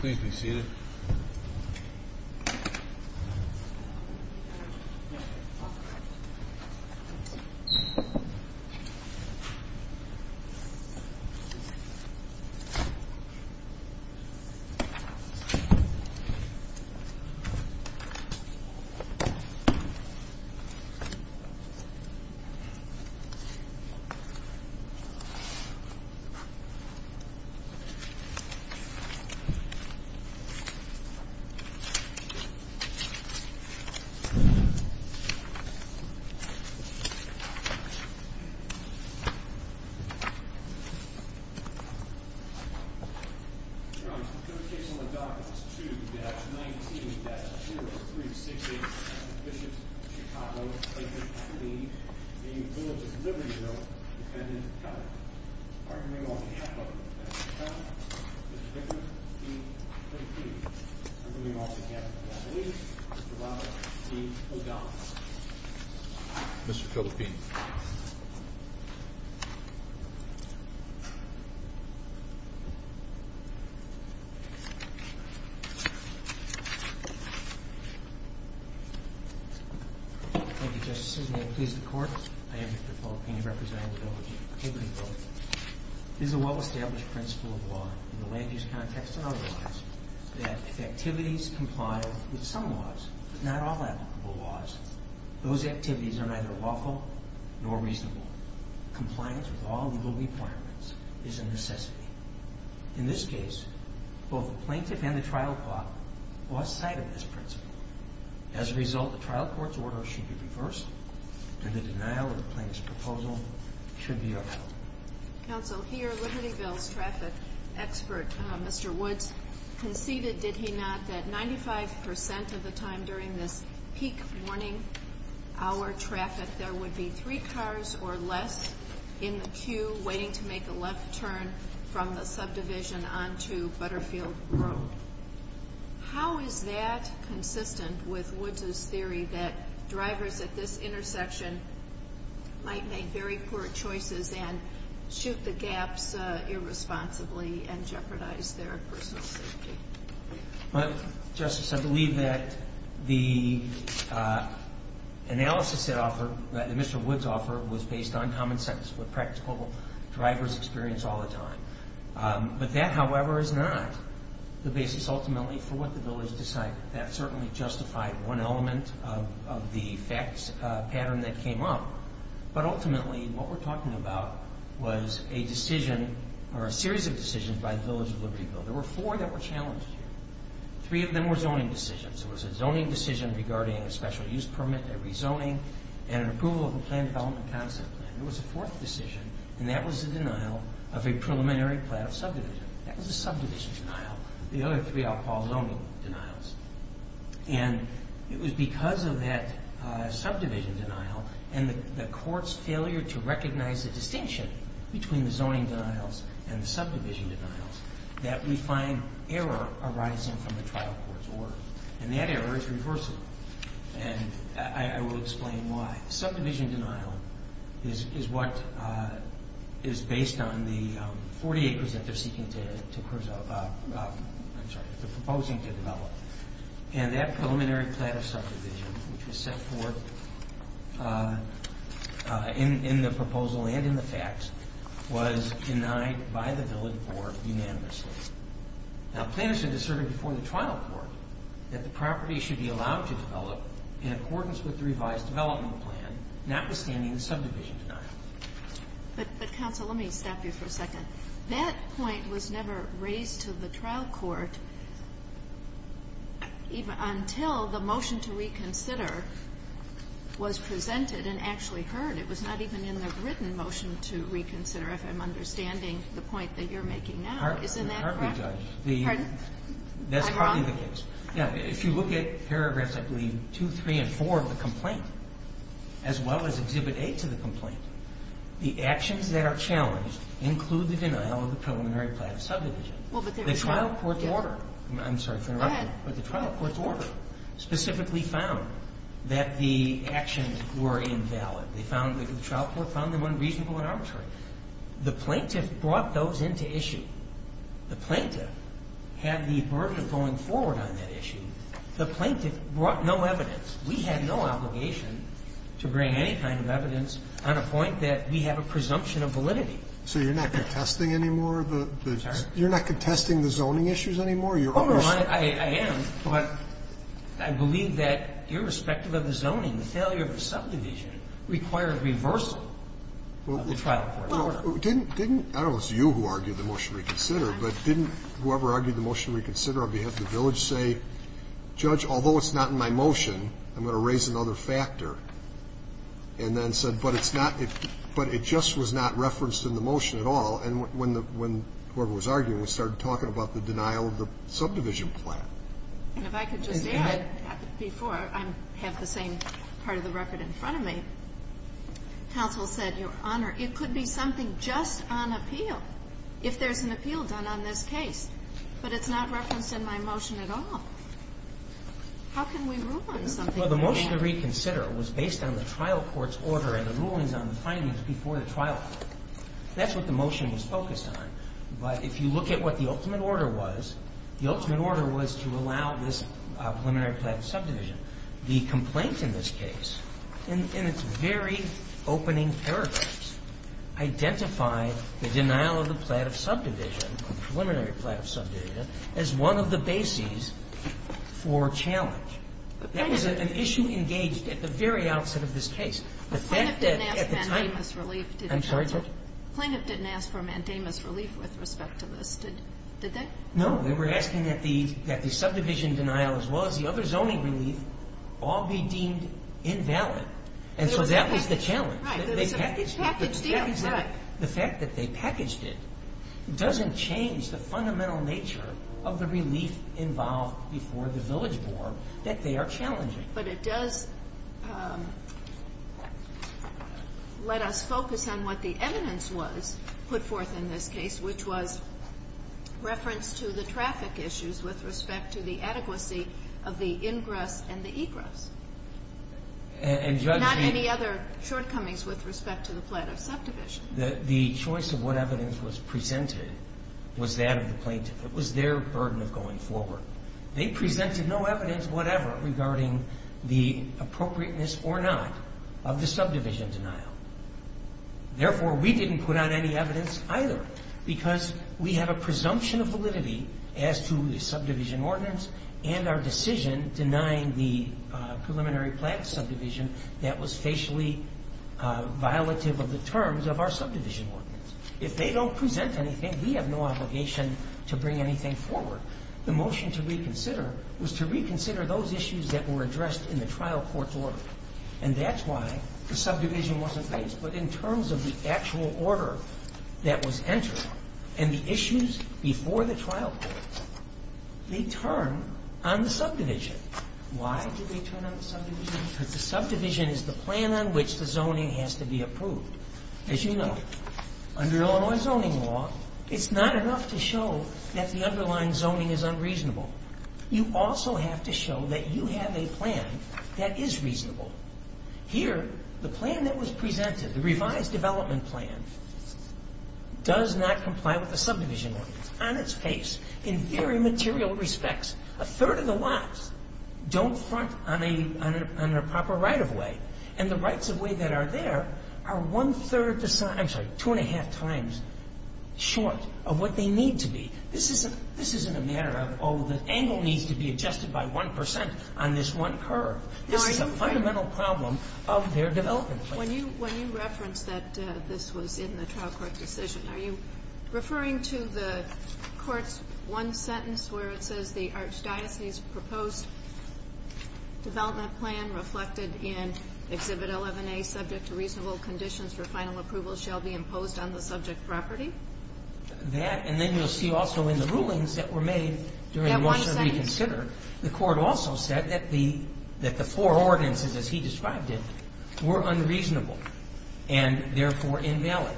Please be seated. Mr. Philippine. Thank you, Justice Sotomayor. Please, the Court. I am here for the Philippine Bishops of Chicago v. The Village of Libertyville. These are well-established principles of law in the land-use context and also in the land-use context. I think it is important to realize that if activities comply with some laws, but not all applicable laws, those activities are neither lawful nor reasonable. Compliance with all legal requirements is a necessity. In this case, both the plaintiff and the trial court lost sight of this principle. As a result, the trial court's order should be reversed and the denial of the plaintiff's proposal should be upheld. Please, the Court. I am here for the Philippine Bishops of Chicago v. The Village of Libertyville. Conceded, did he not, that 95% of the time during this peak morning hour traffic there would be three cars or less in the queue, waiting to make a left turn from the subdivision on to Butterfield Road? How is that consistent with Woods' theory that drivers at this intersection might make very poor choices and shoot the gaps irresponsibly and jeopardize their personal safety? Well, Justice, I believe that the analysis that Mr. Woods offered was based on common sense, what practical drivers experience all the time, but that, however, is not the basis ultimately for what the bill has decided. That certainly justified one element of the facts pattern that came up, but ultimately what we're talking about was a decision or a series of decisions by the Village of Liberty Bill. There were four that were challenged here. Three of them were zoning decisions. There was a zoning decision regarding a special use permit, a rezoning, and an approval of a plan development concept plan. There was a fourth decision, and that was the denial of a preliminary plan of subdivision. That was a subdivision denial. The other three are all zoning denials, and it was because of that subdivision denial and the court's failure to recognize the distinction between the zoning denials and the subdivision denials that we find error arising from the trial court's order, and that error is reversible, and I will explain why. Subdivision denial is what is based on the 48% that they're seeking to, I'm sorry, they're proposing to develop, and that preliminary plan of subdivision, which was set forth in the proposal and in the facts, was denied by the Village Board unanimously. Now, planners had asserted before the trial court that the property should be allowed to develop in accordance with the revised development plan, notwithstanding the subdivision denial. But, counsel, let me stop you for a second. That point was never raised to the trial court until the motion to reconsider was presented and actually heard. It was not even in the written motion to reconsider, if I'm understanding the point that you're making now. Isn't that correct? You can't be judged. Pardon? That's probably the case. Yeah. If you look at paragraphs, I believe, two, three, and four of the complaint, as well as Exhibit A to the complaint, the actions that are challenged include the denial of the preliminary plan of subdivision. Well, but there's a trial court's order. I'm sorry to interrupt you. Go ahead. But the trial court's order specifically found that the actions were invalid. They found that the trial court found them unreasonable and arbitrary. The plaintiff brought those into issue. The plaintiff had the burden of going forward on that issue. The plaintiff brought no evidence. We had no obligation to bring any kind of evidence on a point that we have a presumption of validity. So you're not contesting anymore of the zoning issues anymore? Oh, Your Honor, I am. But I believe that, irrespective of the zoning, the failure of a subdivision required reversal of the trial court's order. Didn't, I don't know if it was you who argued the motion to reconsider, but didn't whoever argued the motion to reconsider on behalf of the village say, Judge, although it's not in my motion, I'm going to raise another factor, and then said, but it's not, but it just was not referenced in the motion at all. And when whoever was arguing, we started talking about the denial of the subdivision plan. And if I could just add, before I have the same part of the record in front of me, counsel said, Your Honor, it could be something just on appeal, if there's an appeal done on this case. But it's not referenced in my motion at all. How can we rule on something like that? Well, the motion to reconsider was based on the trial court's order and the rulings on the findings before the trial court. That's what the motion was focused on. But if you look at what the ultimate order was, the ultimate order was to allow this preliminary plan subdivision. The complaint in this case, in its very opening paragraphs, identified the denial of the plan of subdivision, preliminary plan of subdivision, as one of the bases for challenge. That was an issue engaged at the very outset of this case. The fact that at the time the plaintiff didn't ask for mandamus relief with respect to this. Did that? No. We were asking that the subdivision denial, as well as the other zoning relief, all be deemed invalid. And so that was the challenge. Right. It was packaged in. The fact that they packaged it doesn't change the fundamental nature of the relief involved before the village board that they are challenging. But it does let us focus on what the evidence was put forth in this case, which was reference to the traffic issues with respect to the adequacy of the ingress and the egress. And judge me. Not any other shortcomings with respect to the plan of subdivision. The choice of what evidence was presented was that of the plaintiff. It was their burden of going forward. They presented no evidence whatever regarding the appropriateness or not of the subdivision denial. Therefore, we didn't put out any evidence either because we have a presumption of validity as to the subdivision ordinance and our decision denying the preliminary plan subdivision that was facially violative of the terms of our subdivision ordinance. If they don't present anything, we have no obligation to bring anything forward. The motion to reconsider was to reconsider those issues that were addressed in the trial court's order. And that's why the subdivision wasn't placed. But in terms of the actual order that was entered and the issues before the trial court, they turn on the subdivision. Why did they turn on the subdivision? Because the subdivision is the plan on which the zoning has to be approved. As you know, under Illinois zoning law, it's not enough to show that the underlying zoning is unreasonable. You also have to show that you have a plan that is reasonable. Here, the plan that was presented, the revised development plan, does not comply with the subdivision ordinance. On its face, in very material respects, a third of the lots don't front on a proper right-of-way. And the rights-of-way that are there are two and a half times short of what they need to be. This isn't a matter of, oh, the angle needs to be adjusted by 1 percent on this one curve. This is a fundamental problem of their development plan. When you reference that this was in the trial court decision, are you referring to the court's one sentence where it says the Archdiocese proposed development plan reflected in Exhibit 11A subject to reasonable conditions for final approval shall be imposed on the subject property? That, and then you'll see also in the rulings that were made during the motion to reconsider, the court also said that the four ordinances, as he described it, were unreasonable and therefore invalid.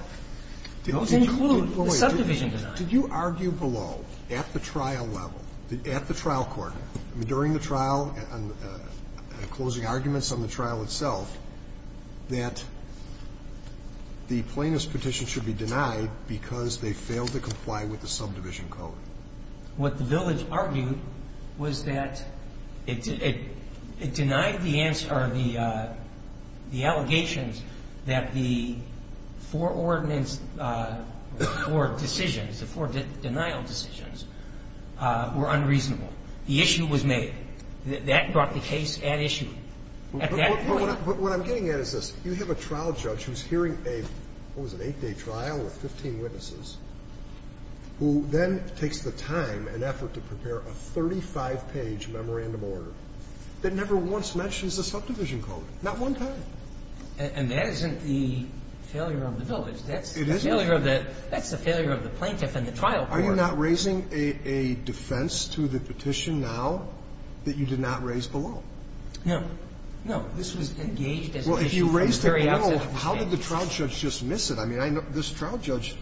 Those include the subdivision design. Did you argue below, at the trial level, at the trial court, during the trial, closing arguments on the trial itself, that the plaintiff's petition should be denied because they failed to comply with the subdivision code? What the village argued was that it denied the allegations that the four ordinances or decisions, the four denial decisions, were unreasonable. The issue was made. That brought the case at issue at that point. But what I'm getting at is this. You have a trial judge who's hearing a, what was it, eight-day trial with 15 witnesses, who then takes the time and effort to prepare a 35-page memorandum order that never once mentions the subdivision code, not one time. And that isn't the failure of the village. It isn't. That's the failure of the plaintiff and the trial court. I'm not raising a defense to the petition now that you did not raise below. No. No. This was engaged as an issue from the very outset. Well, if you raised it below, how did the trial judge just miss it? I mean, this trial judge,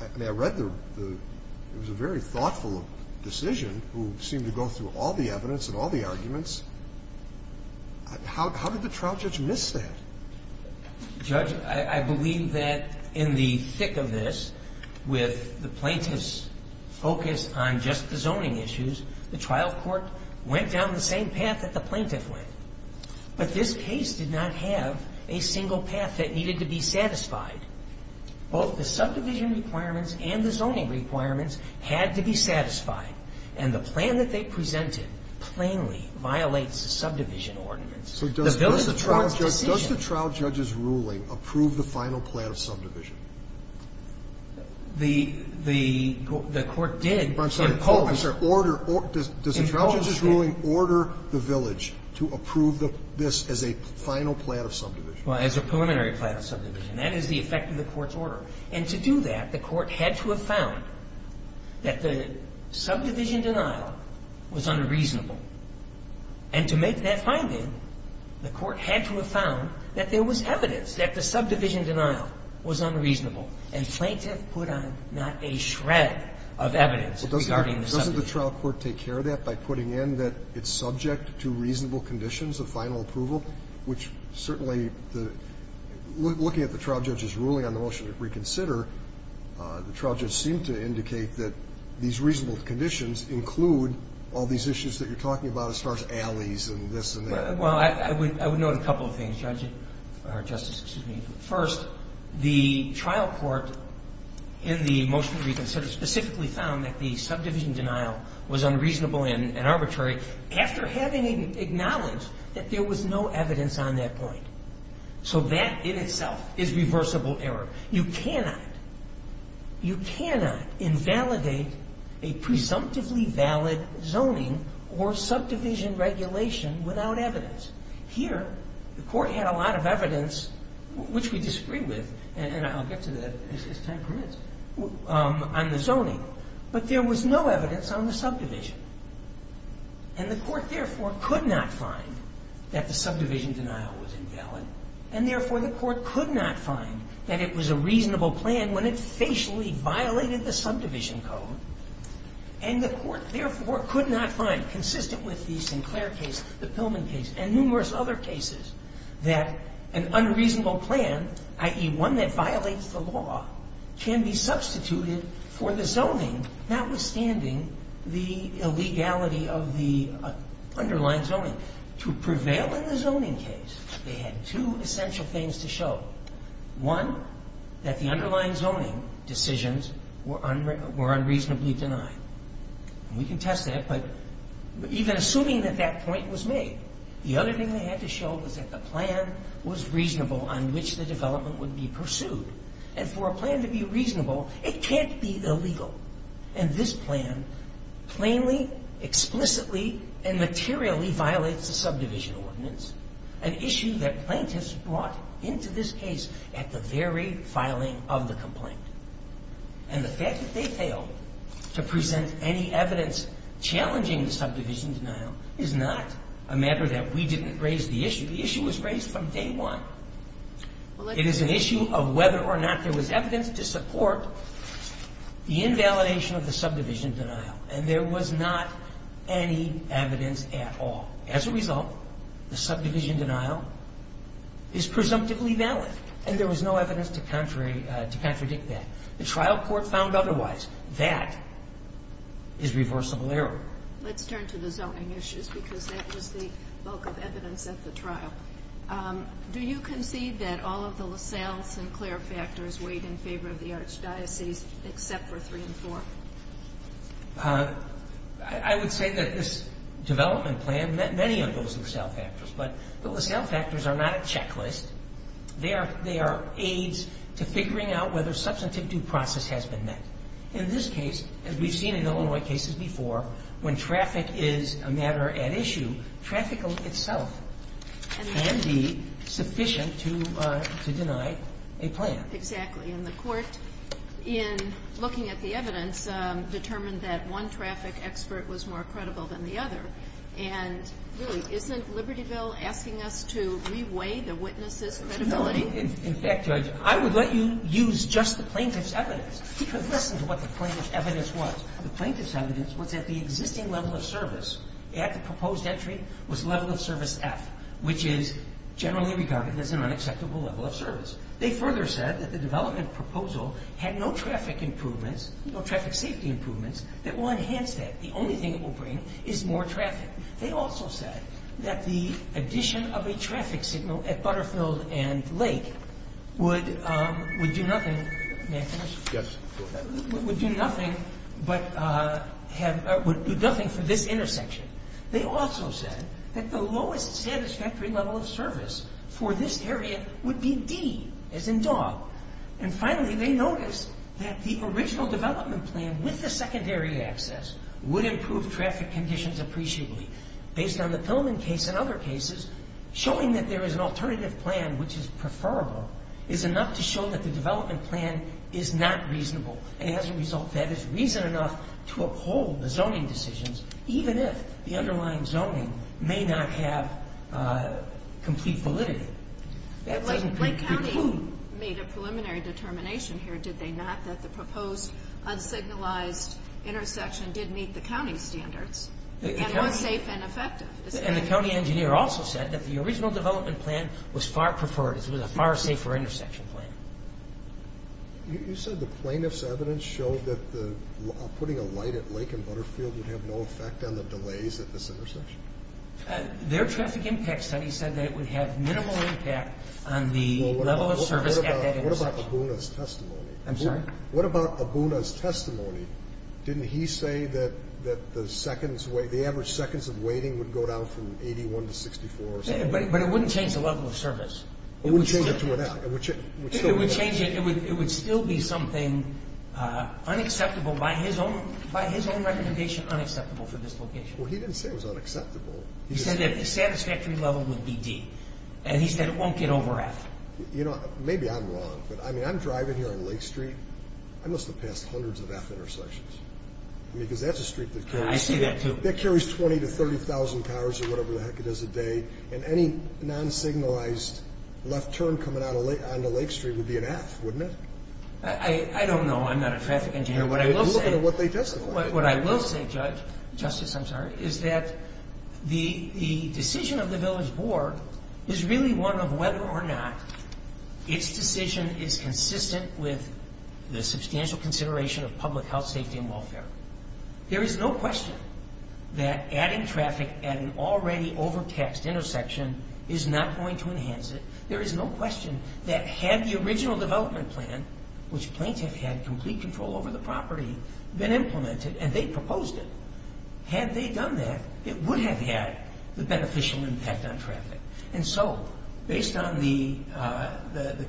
I mean, I read the – it was a very thoughtful decision who seemed to go through all the evidence and all the arguments. How did the trial judge miss that? Judge, I believe that in the thick of this, with the plaintiff's focus on just the zoning issues, the trial court went down the same path that the plaintiff went. But this case did not have a single path that needed to be satisfied. Both the subdivision requirements and the zoning requirements had to be satisfied. And the plan that they presented plainly violates the subdivision ordinance. So does the trial judge's ruling approve the final plan of subdivision? The court did. I'm sorry. Order. Does the trial judge's ruling order the village to approve this as a final plan of subdivision? Well, as a preliminary plan of subdivision. That is the effect of the court's order. And to do that, the court had to have found that the subdivision denial was unreasonable. And to make that finding, the court had to have found that there was evidence that the subdivision denial was unreasonable. And plaintiff put on not a shred of evidence regarding the subdivision. Doesn't the trial court take care of that by putting in that it's subject to reasonable conditions of final approval, which certainly the – looking at the trial judge's ruling on the motion to reconsider, the trial judge seemed to indicate that these I'm talking about it starts alleys and this and that. Well, I would note a couple of things, Judge, or Justice, excuse me. First, the trial court in the motion to reconsider specifically found that the subdivision denial was unreasonable and arbitrary after having acknowledged that there was no evidence on that point. So that in itself is reversible error. You cannot – you cannot invalidate a presumptively valid zoning or subdivision regulation without evidence. Here, the court had a lot of evidence, which we disagree with, and I'll get to that as time permits, on the zoning. But there was no evidence on the subdivision. And the court, therefore, could not find that the subdivision denial was invalid. And, therefore, the court could not find that it was a reasonable plan when it facially violated the subdivision code. And the court, therefore, could not find, consistent with the Sinclair case, the Pillman case, and numerous other cases, that an unreasonable plan, i.e., one that violates the law, can be substituted for the zoning, notwithstanding the illegality of the underlying zoning. To prevail in the zoning case, they had two essential things to show. One, that the underlying zoning decisions were unreasonably denied. And we can test that, but even assuming that that point was made, the other thing they had to show was that the plan was reasonable on which the development would be pursued. And for a plan to be reasonable, it can't be illegal. And this plan plainly, explicitly, and materially violates the subdivision ordinance, an issue that plaintiffs brought into this case at the very filing of the complaint. And the fact that they failed to present any evidence challenging the subdivision denial is not a matter that we didn't raise the issue. The issue was raised from day one. It is an issue of whether or not there was evidence to support the invalidation of the subdivision denial. And there was not any evidence at all. As a result, the subdivision denial is presumptively valid. And there was no evidence to contradict that. The trial court found otherwise. That is reversible error. Let's turn to the zoning issues, because that was the bulk of evidence at the trial. Do you concede that all of the LaSalle-Sinclair factors weighed in favor of the archdiocese except for three and four? I would say that this development plan met many of those LaSalle factors. But the LaSalle factors are not a checklist. They are aids to figuring out whether substantive due process has been met. In this case, as we've seen in Illinois cases before, when traffic is a matter at issue, traffic itself. Can be sufficient to deny a plan. Exactly. And the court, in looking at the evidence, determined that one traffic expert was more credible than the other. And really, isn't Libertyville asking us to re-weigh the witness' credibility? No. In fact, Judge, I would let you use just the plaintiff's evidence. Because listen to what the plaintiff's evidence was. The plaintiff's evidence was that the existing level of service at the proposed entry was level of service F, which is generally regarded as an unacceptable level of service. They further said that the development proposal had no traffic improvements, no traffic safety improvements, that will enhance that. The only thing it will bring is more traffic. They also said that the addition of a traffic signal at Butterfield and Lake would do nothing. May I finish? Yes, go ahead. Would do nothing for this intersection. They also said that the lowest satisfactory level of service for this area would be D, as in dog. And finally, they noticed that the original development plan, with the secondary access, would improve traffic conditions appreciably. Based on the Pillman case and other cases, showing that there is an alternative plan which is preferable is enough to show that the development plan is not reasonable. And as a result, that is reason enough to uphold the zoning decisions, even if the underlying zoning may not have complete validity. Lake County made a preliminary determination here, did they not, that the proposed unsignalized intersection did meet the county standards and was safe and effective. And the county engineer also said that the original development plan was far preferred. It was a far safer intersection plan. You said the plaintiff's evidence showed that putting a light at Lake and Butterfield would have no effect on the delays at this intersection. Their traffic impact study said that it would have minimal impact on the level of service at that intersection. What about Abuna's testimony? I'm sorry? What about Abuna's testimony? Didn't he say that the average seconds of waiting would go down from 81 to 64? But it wouldn't change the level of service. It would change it to an F. Well, he didn't say it was unacceptable. He said that the satisfactory level would be D. And he said it won't get over F. Maybe I'm wrong, but I'm driving here on Lake Street. I must have passed hundreds of F intersections. I mean, because that's a street that carries 20,000 to 30,000 cars or whatever the heck it is a day, and any non-signalized left turn coming onto Lake Street would be an F, wouldn't it? I don't know. I'm not a traffic engineer. I'm looking at what they testified. What I will say, Justice, is that the decision of the village board is really one of whether or not its decision is consistent with the substantial consideration of public health, safety, and welfare. There is no question that adding traffic at an already overtaxed intersection is not going to enhance it. There is no question that had the original development plan, which plaintiff had complete control over the property, been implemented and they proposed it, had they done that it would have had the beneficial impact on traffic. And so based on the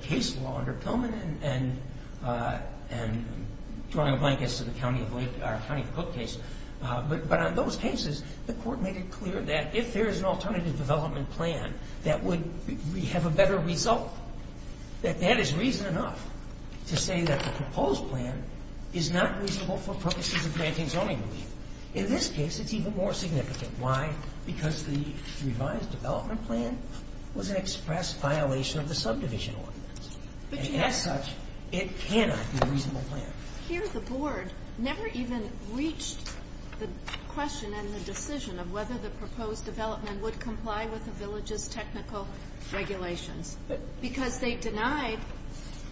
case law under Pillman and drawing a blank as to the County of Cook case, but on those cases the court made it clear that if there is an alternative development plan that would have a better result, that that is reason enough to say that the proposed plan is not reasonable for purposes of granting zoning relief. In this case, it's even more significant. Why? Because the revised development plan was an express violation of the subdivision ordinance. And as such, it cannot be a reasonable plan. Here the board never even reached the question and the decision of whether the proposed development would comply with the village's technical regulations because they denied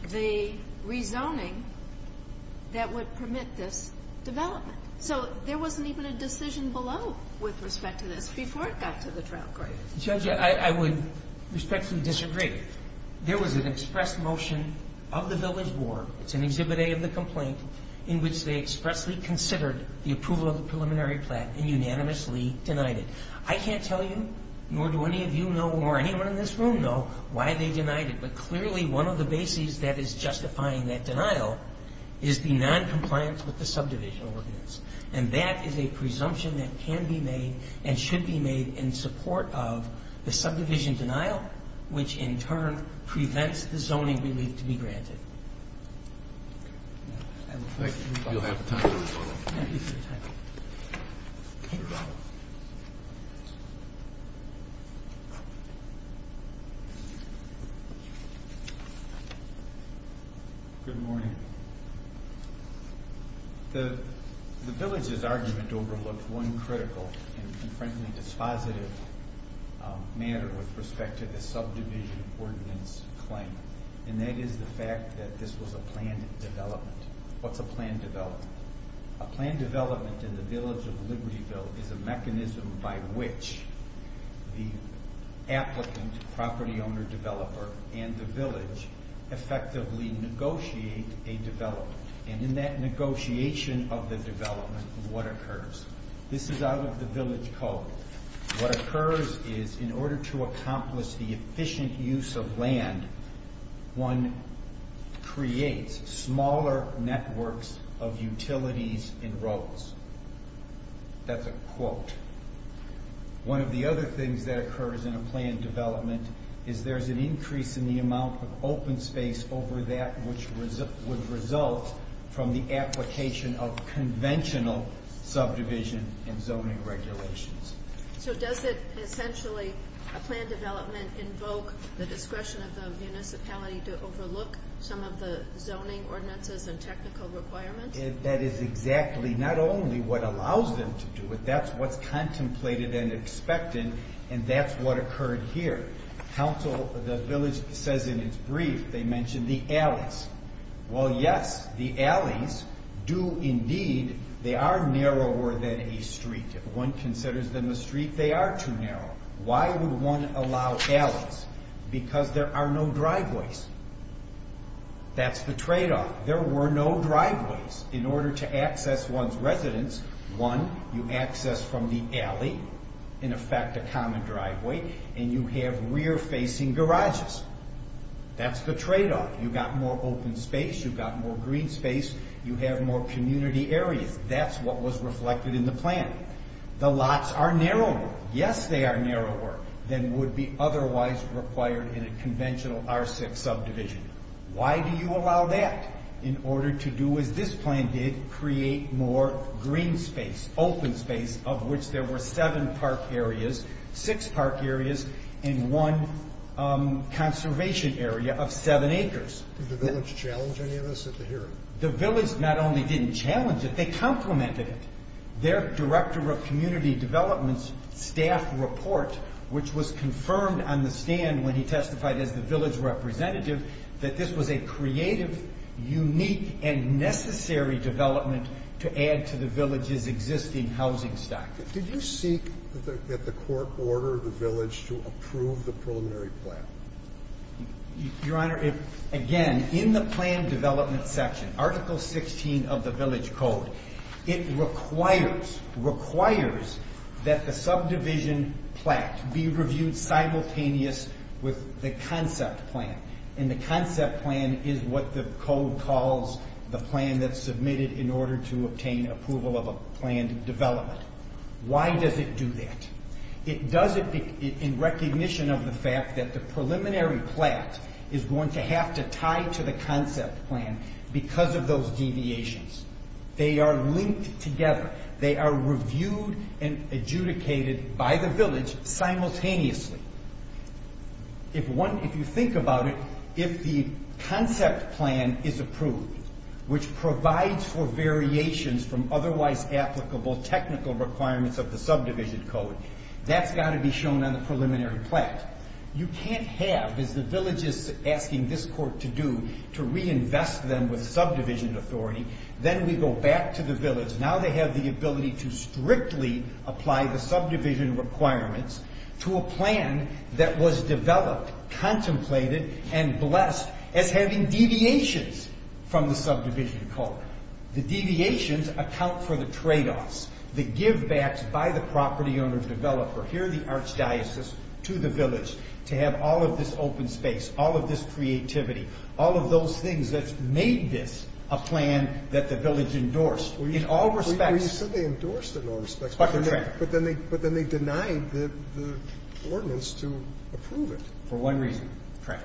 the rezoning that would permit this development. So there wasn't even a decision below with respect to this before it got to the trial court. Judge, I would respectfully disagree. There was an express motion of the village board, it's in Exhibit A of the complaint, in which they expressly considered the approval of the preliminary plan and unanimously denied it. I can't tell you, nor do any of you know, nor anyone in this room know why they denied it, but clearly one of the bases that is justifying that denial is the noncompliance with the subdivision ordinance. And that is a presumption that can be made and should be made in support of the subdivision denial, which in turn prevents the zoning relief to be granted. Thank you. You'll have time to respond. Good morning. The village's argument overlooked one critical and, frankly, dispositive matter with respect to the subdivision ordinance claim, and that is the fact that this was a planned development. What's a planned development? A planned development in the village of Libertyville is a mechanism by which the applicant, property owner, developer, and the village effectively negotiate a development. And in that negotiation of the development, what occurs? This is out of the village code. What occurs is in order to accomplish the efficient use of land one creates smaller networks of utilities and roads. That's a quote. One of the other things that occurs in a planned development is there's an increase in the amount of open space over that which would result from the application of conventional subdivision and zoning regulations. So does it essentially, a planned development, invoke the discretion of the municipality to overlook some of the zoning ordinances and technical requirements? That is exactly not only what allows them to do it. That's what's contemplated and expected, and that's what occurred here. The village says in its brief they mentioned the alleys. Well, yes, the alleys do indeed. They are narrower than a street. If one considers them a street, they are too narrow. Why would one allow alleys? Because there are no driveways. That's the tradeoff. There were no driveways. In order to access one's residence, one, you access from the alley, in effect a common driveway, and you have rear-facing garages. That's the tradeoff. You've got more open space, you've got more green space, you have more community areas. That's what was reflected in the plan. The lots are narrower. Yes, they are narrower than would be otherwise required in a conventional R6 subdivision. Why do you allow that? In order to do as this plan did, create more green space, open space, of which there were seven park areas, six park areas, and one conservation area of seven acres. Did the village challenge any of this at the hearing? The village not only didn't challenge it, they complimented it. Their Director of Community Development's staff report, which was confirmed on the stand when he testified as the village representative, that this was a creative, unique, and necessary development to add to the village's existing housing stock. Did you seek at the court order the village to approve the preliminary plan? Your Honor, again, in the plan development section, Article 16 of the village code, it requires that the subdivision plaque be reviewed simultaneous with the concept plan. And the concept plan is what the code calls the plan that's submitted in order to obtain approval of a planned development. Why does it do that? It does it in recognition of the fact that the preliminary plaque is going to have to tie to the concept plan because of those deviations. They are linked together. They are reviewed and adjudicated by the village simultaneously. If you think about it, if the concept plan is approved, which provides for variations from otherwise applicable technical requirements of the subdivision code, that's got to be shown on the preliminary plaque. You can't have, as the village is asking this court to do, to reinvest them with subdivision authority then we go back to the village. Now they have the ability to strictly apply the subdivision requirements to a plan that was developed, contemplated, and blessed as having deviations from the subdivision code. The deviations account for the trade-offs, the give-backs by the property owner developer, here the archdiocese, to the village to have all of this open space, all of this creativity, all of those things that made this a plan that the village endorsed in all respects. Well, you said they endorsed it in all respects, but then they denied the ordinance to approve it. For one reason, Craig.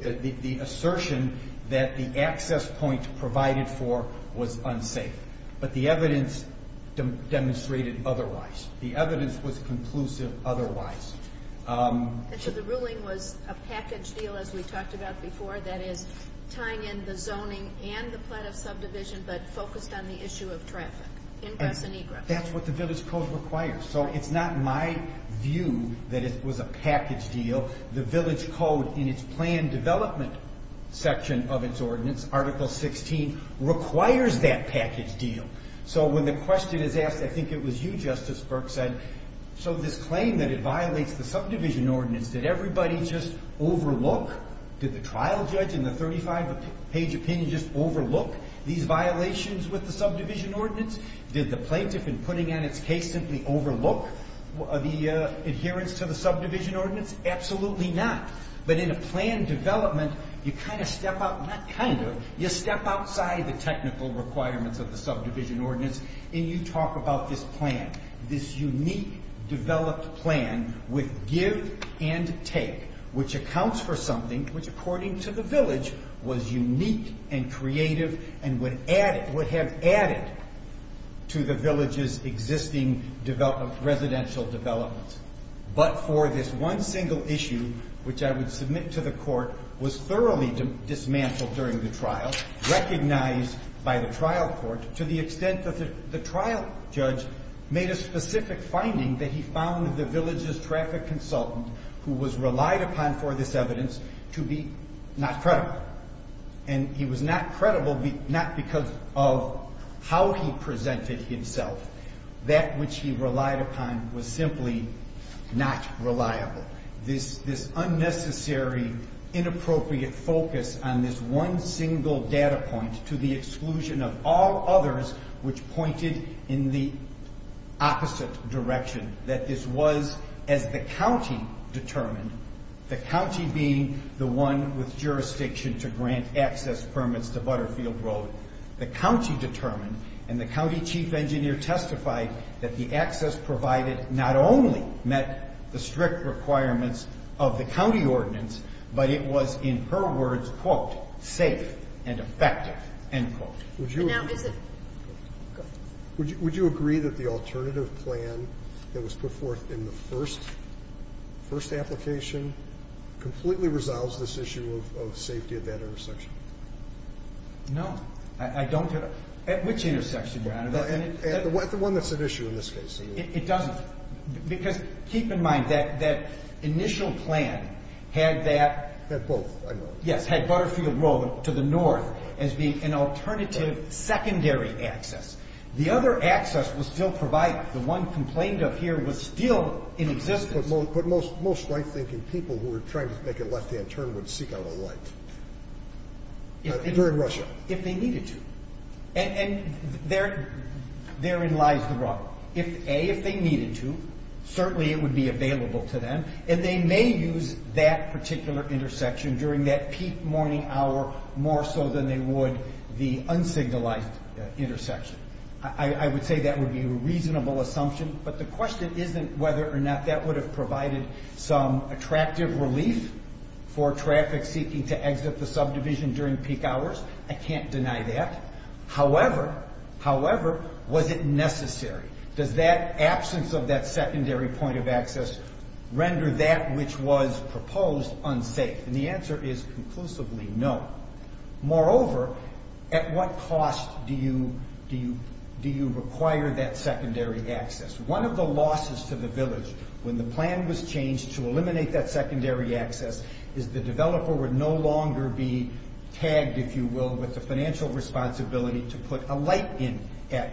The assertion that the access point provided for was unsafe. But the evidence demonstrated otherwise. The evidence was conclusive otherwise. The ruling was a package deal, as we talked about before, that is tying in the zoning and the plot of subdivision, but focused on the issue of traffic, ingress and egress. That's what the village code requires. So it's not my view that it was a package deal. The village code in its planned development section of its ordinance, Article 16, requires that package deal. So when the question is asked, I think it was you, Justice Burke, said, so this claim that it violates the subdivision ordinance, did everybody just overlook? Did the trial judge in the 35-page opinion just overlook these violations with the subdivision ordinance? Did the plaintiff, in putting on its case, simply overlook the adherence to the subdivision ordinance? Absolutely not. But in a planned development, you kind of step out, not kind of, you step outside the technical requirements of the subdivision ordinance, and you talk about this plan, this unique developed plan with give and take, which accounts for something, which, according to the village, was unique and creative and would have added to the village's existing residential developments. But for this one single issue, which I would submit to the court, was thoroughly dismantled during the trial, recognized by the trial court, to the extent that the trial judge made a specific finding that he found the village's traffic consultant who was relied upon for this evidence to be not credible. And he was not credible not because of how he presented himself. That which he relied upon was simply not reliable. This unnecessary, inappropriate focus on this one single data point to the exclusion of all others which pointed in the opposite direction, that this was, as the county determined, the county being the one with jurisdiction to grant access permits to Butterfield Road, the county determined, and the county chief engineer testified that the access provided not only met the strict requirements of the county ordinance, but it was, in her words, quote, safe and effective, end quote. And now is it? Would you agree that the alternative plan that was put forth in the first application completely resolves this issue of safety at that intersection? No, I don't. At which intersection, Your Honor? At the one that's at issue in this case. It doesn't. Because keep in mind, that initial plan had that... Had both, I know. Yes, had Butterfield Road to the north as being an alternative secondary access. The other access was still provided. The one complained of here was still in existence. But most right-thinking people who were trying to make a left-hand turn would seek out a right. During Russia. If they needed to. And therein lies the rub. A, if they needed to, certainly it would be available to them, and they may use that particular intersection during that peak morning hour more so than they would the unsignalized intersection. I would say that would be a reasonable assumption. But the question isn't whether or not that would have provided some attractive relief for traffic seeking to exit the subdivision during peak hours. I can't deny that. However, however, was it necessary? Does that absence of that secondary point of access render that which was proposed unsafe? And the answer is conclusively no. Moreover, at what cost do you require that secondary access? One of the losses to the village when the plan was changed to eliminate that secondary access is the developer would no longer be tagged, if you will, with the financial responsibility to put a light in at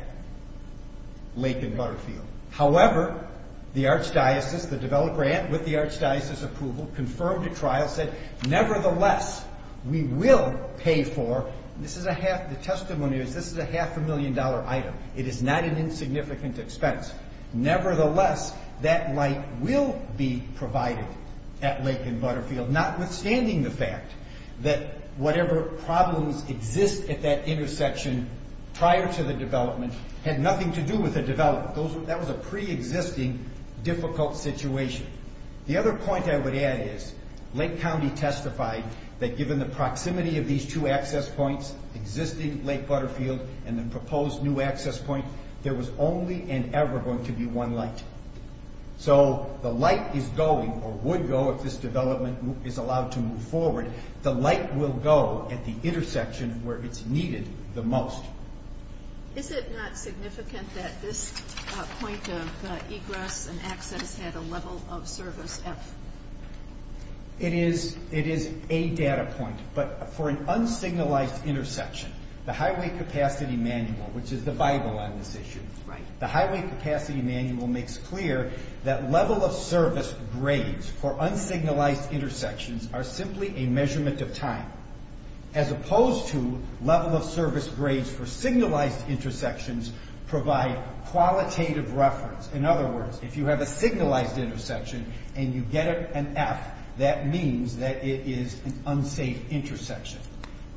Lake and Butterfield. However, the archdiocese, the developer with the archdiocese approval, confirmed the trial, said, nevertheless, we will pay for... The testimony is this is a half a million dollar item. It is not an insignificant expense. Nevertheless, that light will be provided at Lake and Butterfield, notwithstanding the fact that whatever problems exist at that intersection prior to the development had nothing to do with the development. That was a pre-existing difficult situation. The other point I would add is Lake County testified that given the proximity of these two access points, existing Lake Butterfield and the proposed new access point, there was only and ever going to be one light. So the light is going or would go if this development is allowed to move forward. The light will go at the intersection where it's needed the most. Is it not significant that this point of egress and access had a level of service F? It is a data point, but for an unsignalized intersection, the Highway Capacity Manual, which is the Bible on this issue, the Highway Capacity Manual makes clear that level of service grades for unsignalized intersections are simply a measurement of time, as opposed to level of service grades for signalized intersections provide qualitative reference. In other words, if you have a signalized intersection and you get an F, that means that it is an unsafe intersection.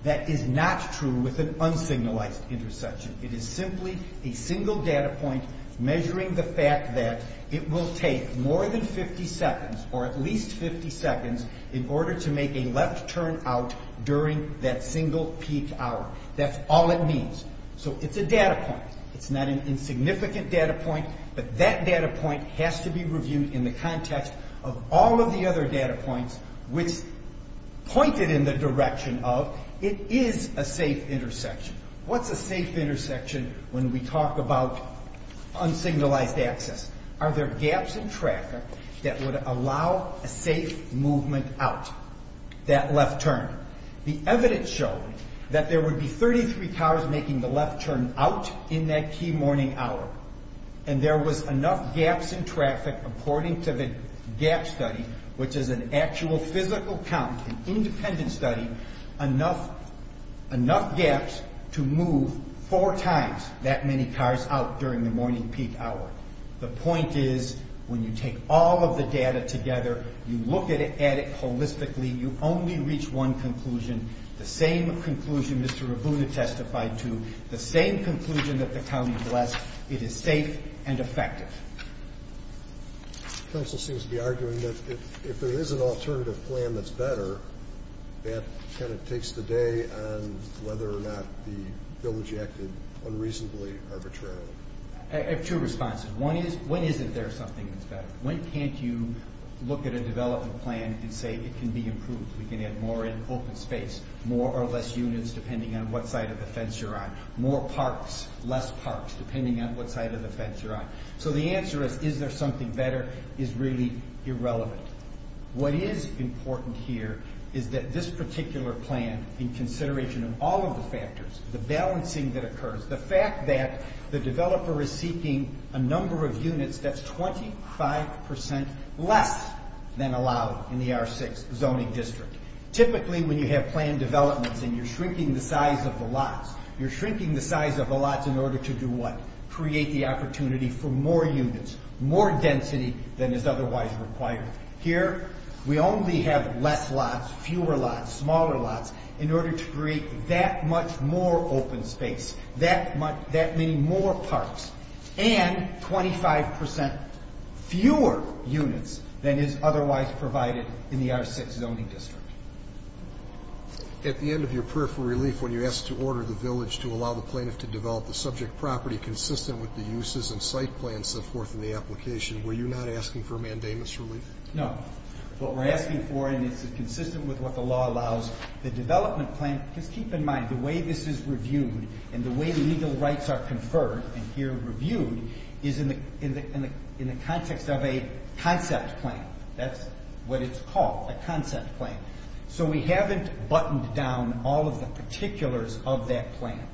That is not true with an unsignalized intersection. It is simply a single data point measuring the fact that it will take more than 50 seconds or at least 50 seconds in order to make a left turn out during that single peak hour. That's all it means. So it's a data point. It's not an insignificant data point, but that data point has to be reviewed in the context of all of the other data points which pointed in the direction of it is a safe intersection. What's a safe intersection when we talk about unsignalized access? Are there gaps in traffic that would allow a safe movement out, that left turn? The evidence showed that there would be 33 cars making the left turn out in that key morning hour, and there was enough gaps in traffic, according to the GAP study, which is an actual physical count, an independent study, enough gaps to move four times that many cars out during the morning peak hour. The point is, when you take all of the data together, you look at it holistically, you only reach one conclusion. The same conclusion Mr. Rabuna testified to, the same conclusion that the county blessed, it is safe and effective. The council seems to be arguing that if there is an alternative plan that's better, that kind of takes the day on whether or not the bill was acted unreasonably arbitrarily. I have two responses. One is, when isn't there something that's better? When can't you look at a development plan and say it can be improved, we can add more in open space, more or less units, depending on what side of the fence you're on, more parks, less parks, depending on what side of the fence you're on. So the answer is, is there something better, is really irrelevant. What is important here is that this particular plan, in consideration of all of the factors, the balancing that occurs, the fact that the developer is seeking a number of units that's 25% less than allowed in the R6 zoning district. Typically when you have planned developments and you're shrinking the size of the lots, you're shrinking the size of the lots in order to do what? Create the opportunity for more units, more density than is otherwise required. Here we only have less lots, fewer lots, smaller lots, in order to create that much more open space, that many more parks, and 25% fewer units than is otherwise provided in the R6 zoning district. At the end of your prayer for relief, when you asked to order the village to allow the plaintiff to develop the subject property consistent with the uses and site plans set forth in the application, were you not asking for a mandamus relief? No. What we're asking for, and it's consistent with what the law allows, the development plan, just keep in mind, the way this is reviewed and the way legal rights are conferred, and here reviewed, is in the context of a concept plan. That's what it's called, a concept plan. So we haven't buttoned down all of the particulars of that plan.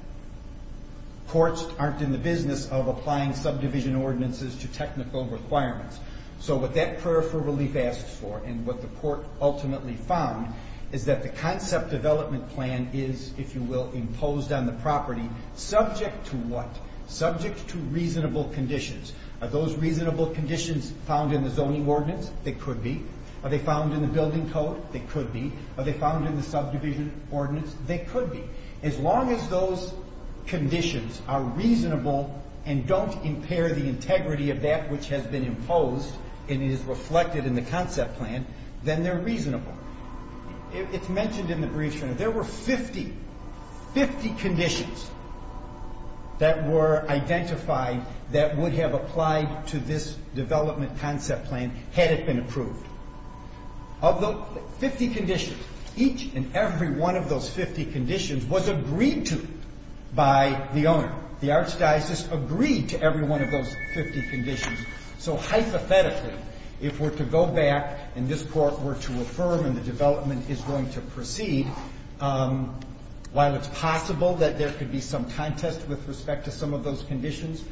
Courts aren't in the business of applying subdivision ordinances to technical requirements. So what that prayer for relief asks for and what the court ultimately found is that the concept development plan is, if you will, imposed on the property subject to what? Subject to reasonable conditions. Are those reasonable conditions found in the zoning ordinance? They could be. Are they found in the building code? They could be. Are they found in the subdivision ordinance? They could be. As long as those conditions are reasonable and don't impair the integrity of that which has been imposed and is reflected in the concept plan, then they're reasonable. It's mentioned in the brief, there were 50 conditions that were identified that would have applied to this development concept plan had it been approved. Of the 50 conditions, each and every one of those 50 conditions was agreed to by the owner. The archdiocese agreed to every one of those 50 conditions. So hypothetically, if we're to go back and this court were to affirm that the development is going to proceed, while it's possible that there could be some contest with respect to some of those conditions,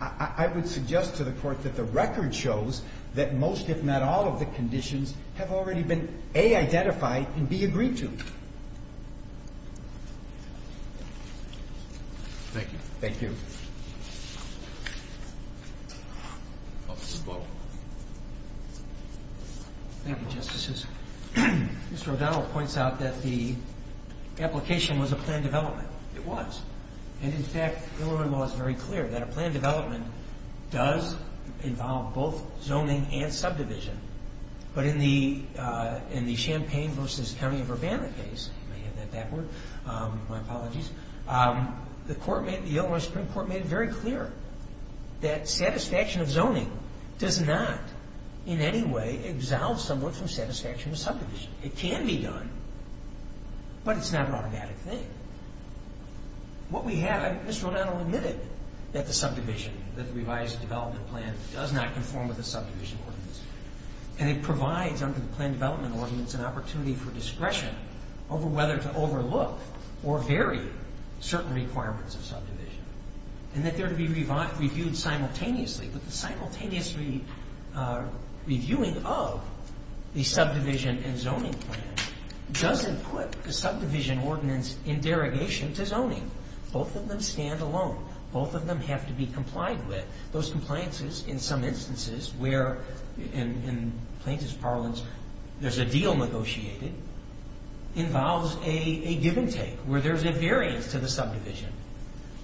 I would suggest to the court that the record shows that most, if not all, of the conditions have already been, A, identified, and B, agreed to. Thank you. Thank you. Thank you. Thank you, Justices. Mr. O'Donnell points out that the application was a planned development. It was. And in fact, Illinois law is very clear that a planned development does involve both zoning and subdivision. But in the Champaign v. County of Urbana case, you may have heard that word, my apologies, the Illinois Supreme Court made it very clear that satisfaction of zoning does not in any way absolve someone from satisfaction of subdivision. It can be done, but it's not an automatic thing. What we have, and Mr. O'Donnell admitted that the subdivision, that the revised development plan does not conform with the subdivision ordinance. And it provides, under the planned development ordinance, an opportunity for discretion over whether to overlook or vary certain requirements of subdivision. And that they're to be reviewed simultaneously. But the simultaneous reviewing of the subdivision and zoning plan doesn't put the subdivision ordinance in derogation to zoning. Both of them stand alone. Both of them have to be complied with. Those compliances, in some instances, where, in plaintiff's parlance, there's a deal negotiated, involves a give and take, where there's a variance to the subdivision.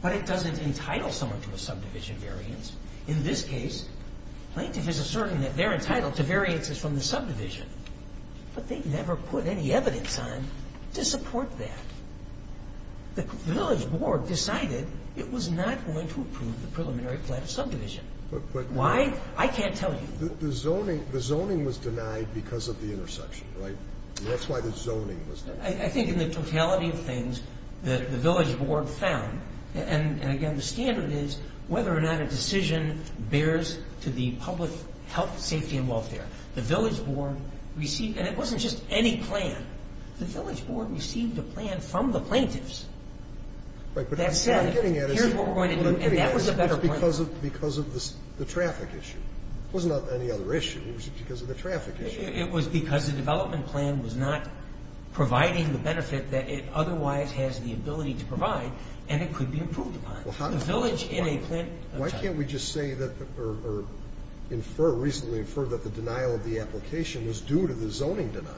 But it doesn't entitle someone to a subdivision variance. In this case, plaintiff is asserting that they're entitled to variances from the subdivision. But they never put any evidence on to support that. The village board decided it was not going to approve the preliminary plan of subdivision. Why? I can't tell you. The zoning was denied because of the intersection, right? That's why the zoning was denied. I think in the totality of things that the village board found, and again, the standard is whether or not a decision bears to the public health, safety, and welfare. The village board received, and it wasn't just any plan, the village board received a plan from the plaintiffs that said, here's what we're going to do, and that was a better plan. Because of the traffic issue. It was not any other issue. It was because of the traffic issue. It was because the development plan was not providing the benefit that it otherwise has the ability to provide, and it could be approved upon. The village in a plan... Why can't we just say that, or infer, reasonably infer that the denial of the application was due to the zoning denial?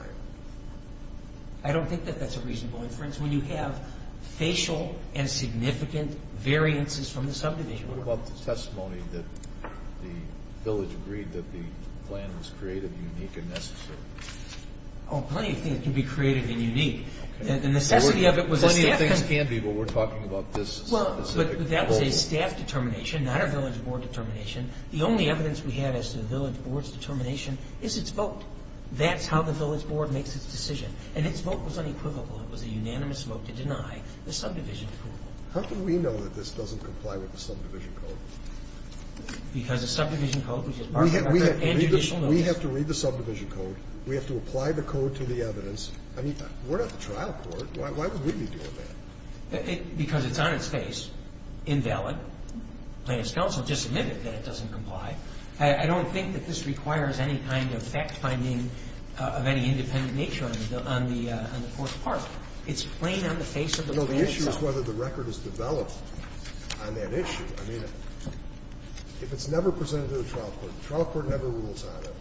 I don't think that that's a reasonable inference when you have facial and significant variances from the subdivision. What about the testimony that the village agreed that the plan was creative, unique, and necessary? Oh, plenty of things can be creative and unique. The necessity of it was... Plenty of things can be, but we're talking about this specific goal. But that was a staff determination, not a village board determination. The only evidence we have as to the village board's determination is its vote. That's how the village board makes its decision, and its vote was unequivocal. It was a unanimous vote to deny the subdivision approval. How can we know that this doesn't comply with the subdivision code? Because the subdivision code... We have to read the subdivision code. We have to apply the code to the evidence. I mean, we're not the trial court. Why would we be doing that? Because it's on its face. Invalid. The plaintiff's counsel just admitted that it doesn't comply. I don't think that this requires any kind of fact-finding of any independent nature on the fourth part. It's plain on the face of the plaintiff's counsel. No, the issue is whether the record is developed on that issue. I mean, if it's never presented to the trial court, the trial court never rules on it,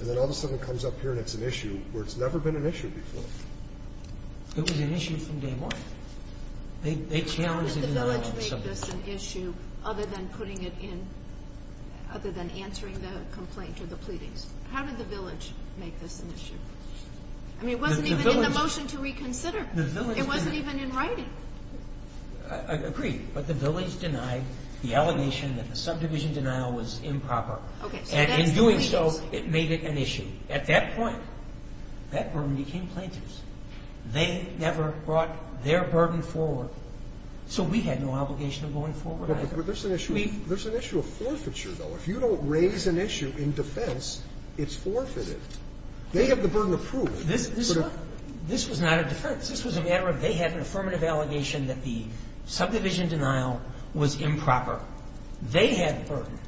and then all of a sudden it comes up here and it's an issue where it's never been an issue before. It was an issue from day one. They challenged the denial of the subdivision. How did the village make this an issue other than putting it in... other than answering the complaint or the pleadings? How did the village make this an issue? I mean, it wasn't even in the motion to reconsider. It wasn't even in writing. I agree. But the village denied the allegation that the subdivision denial was improper. Okay. And in doing so, it made it an issue. At that point, that burden became plaintiff's. They never brought their burden forward, so we had no obligation of going forward either. But there's an issue of forfeiture, though. If you don't raise an issue in defense, it's forfeited. They have the burden of proof. This was not a defense. This was a matter of they had an affirmative allegation that the subdivision denial was improper. They had the burden.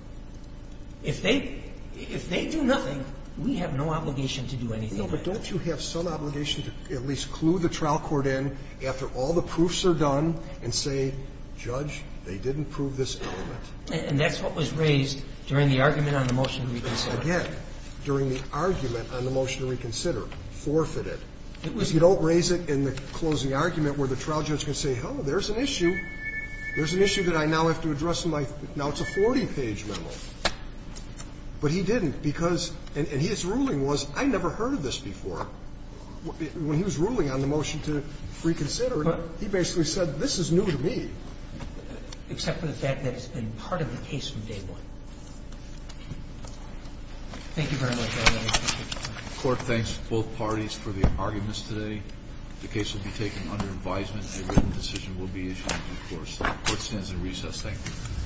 If they do nothing, we have no obligation to do anything. No, but don't you have some obligation to at least clue the trial court in after all the proofs are done and say, Judge, they didn't prove this element? And that's what was raised during the argument on the motion to reconsider. Again, during the argument on the motion to reconsider. Forfeited. If you don't raise it in the closing argument where the trial judge can say, hello, there's an issue. There's an issue that I now have to address in my 40-page memo. But he didn't because, and his ruling was, I never heard of this before. When he was ruling on the motion to reconsider, he basically said, this is new to me. Except for the fact that it's been part of the case from day one. Thank you very much, everybody. Court thanks both parties for the arguments today. The case will be taken under advisement. A written decision will be issued. Court stands in recess. Thank you.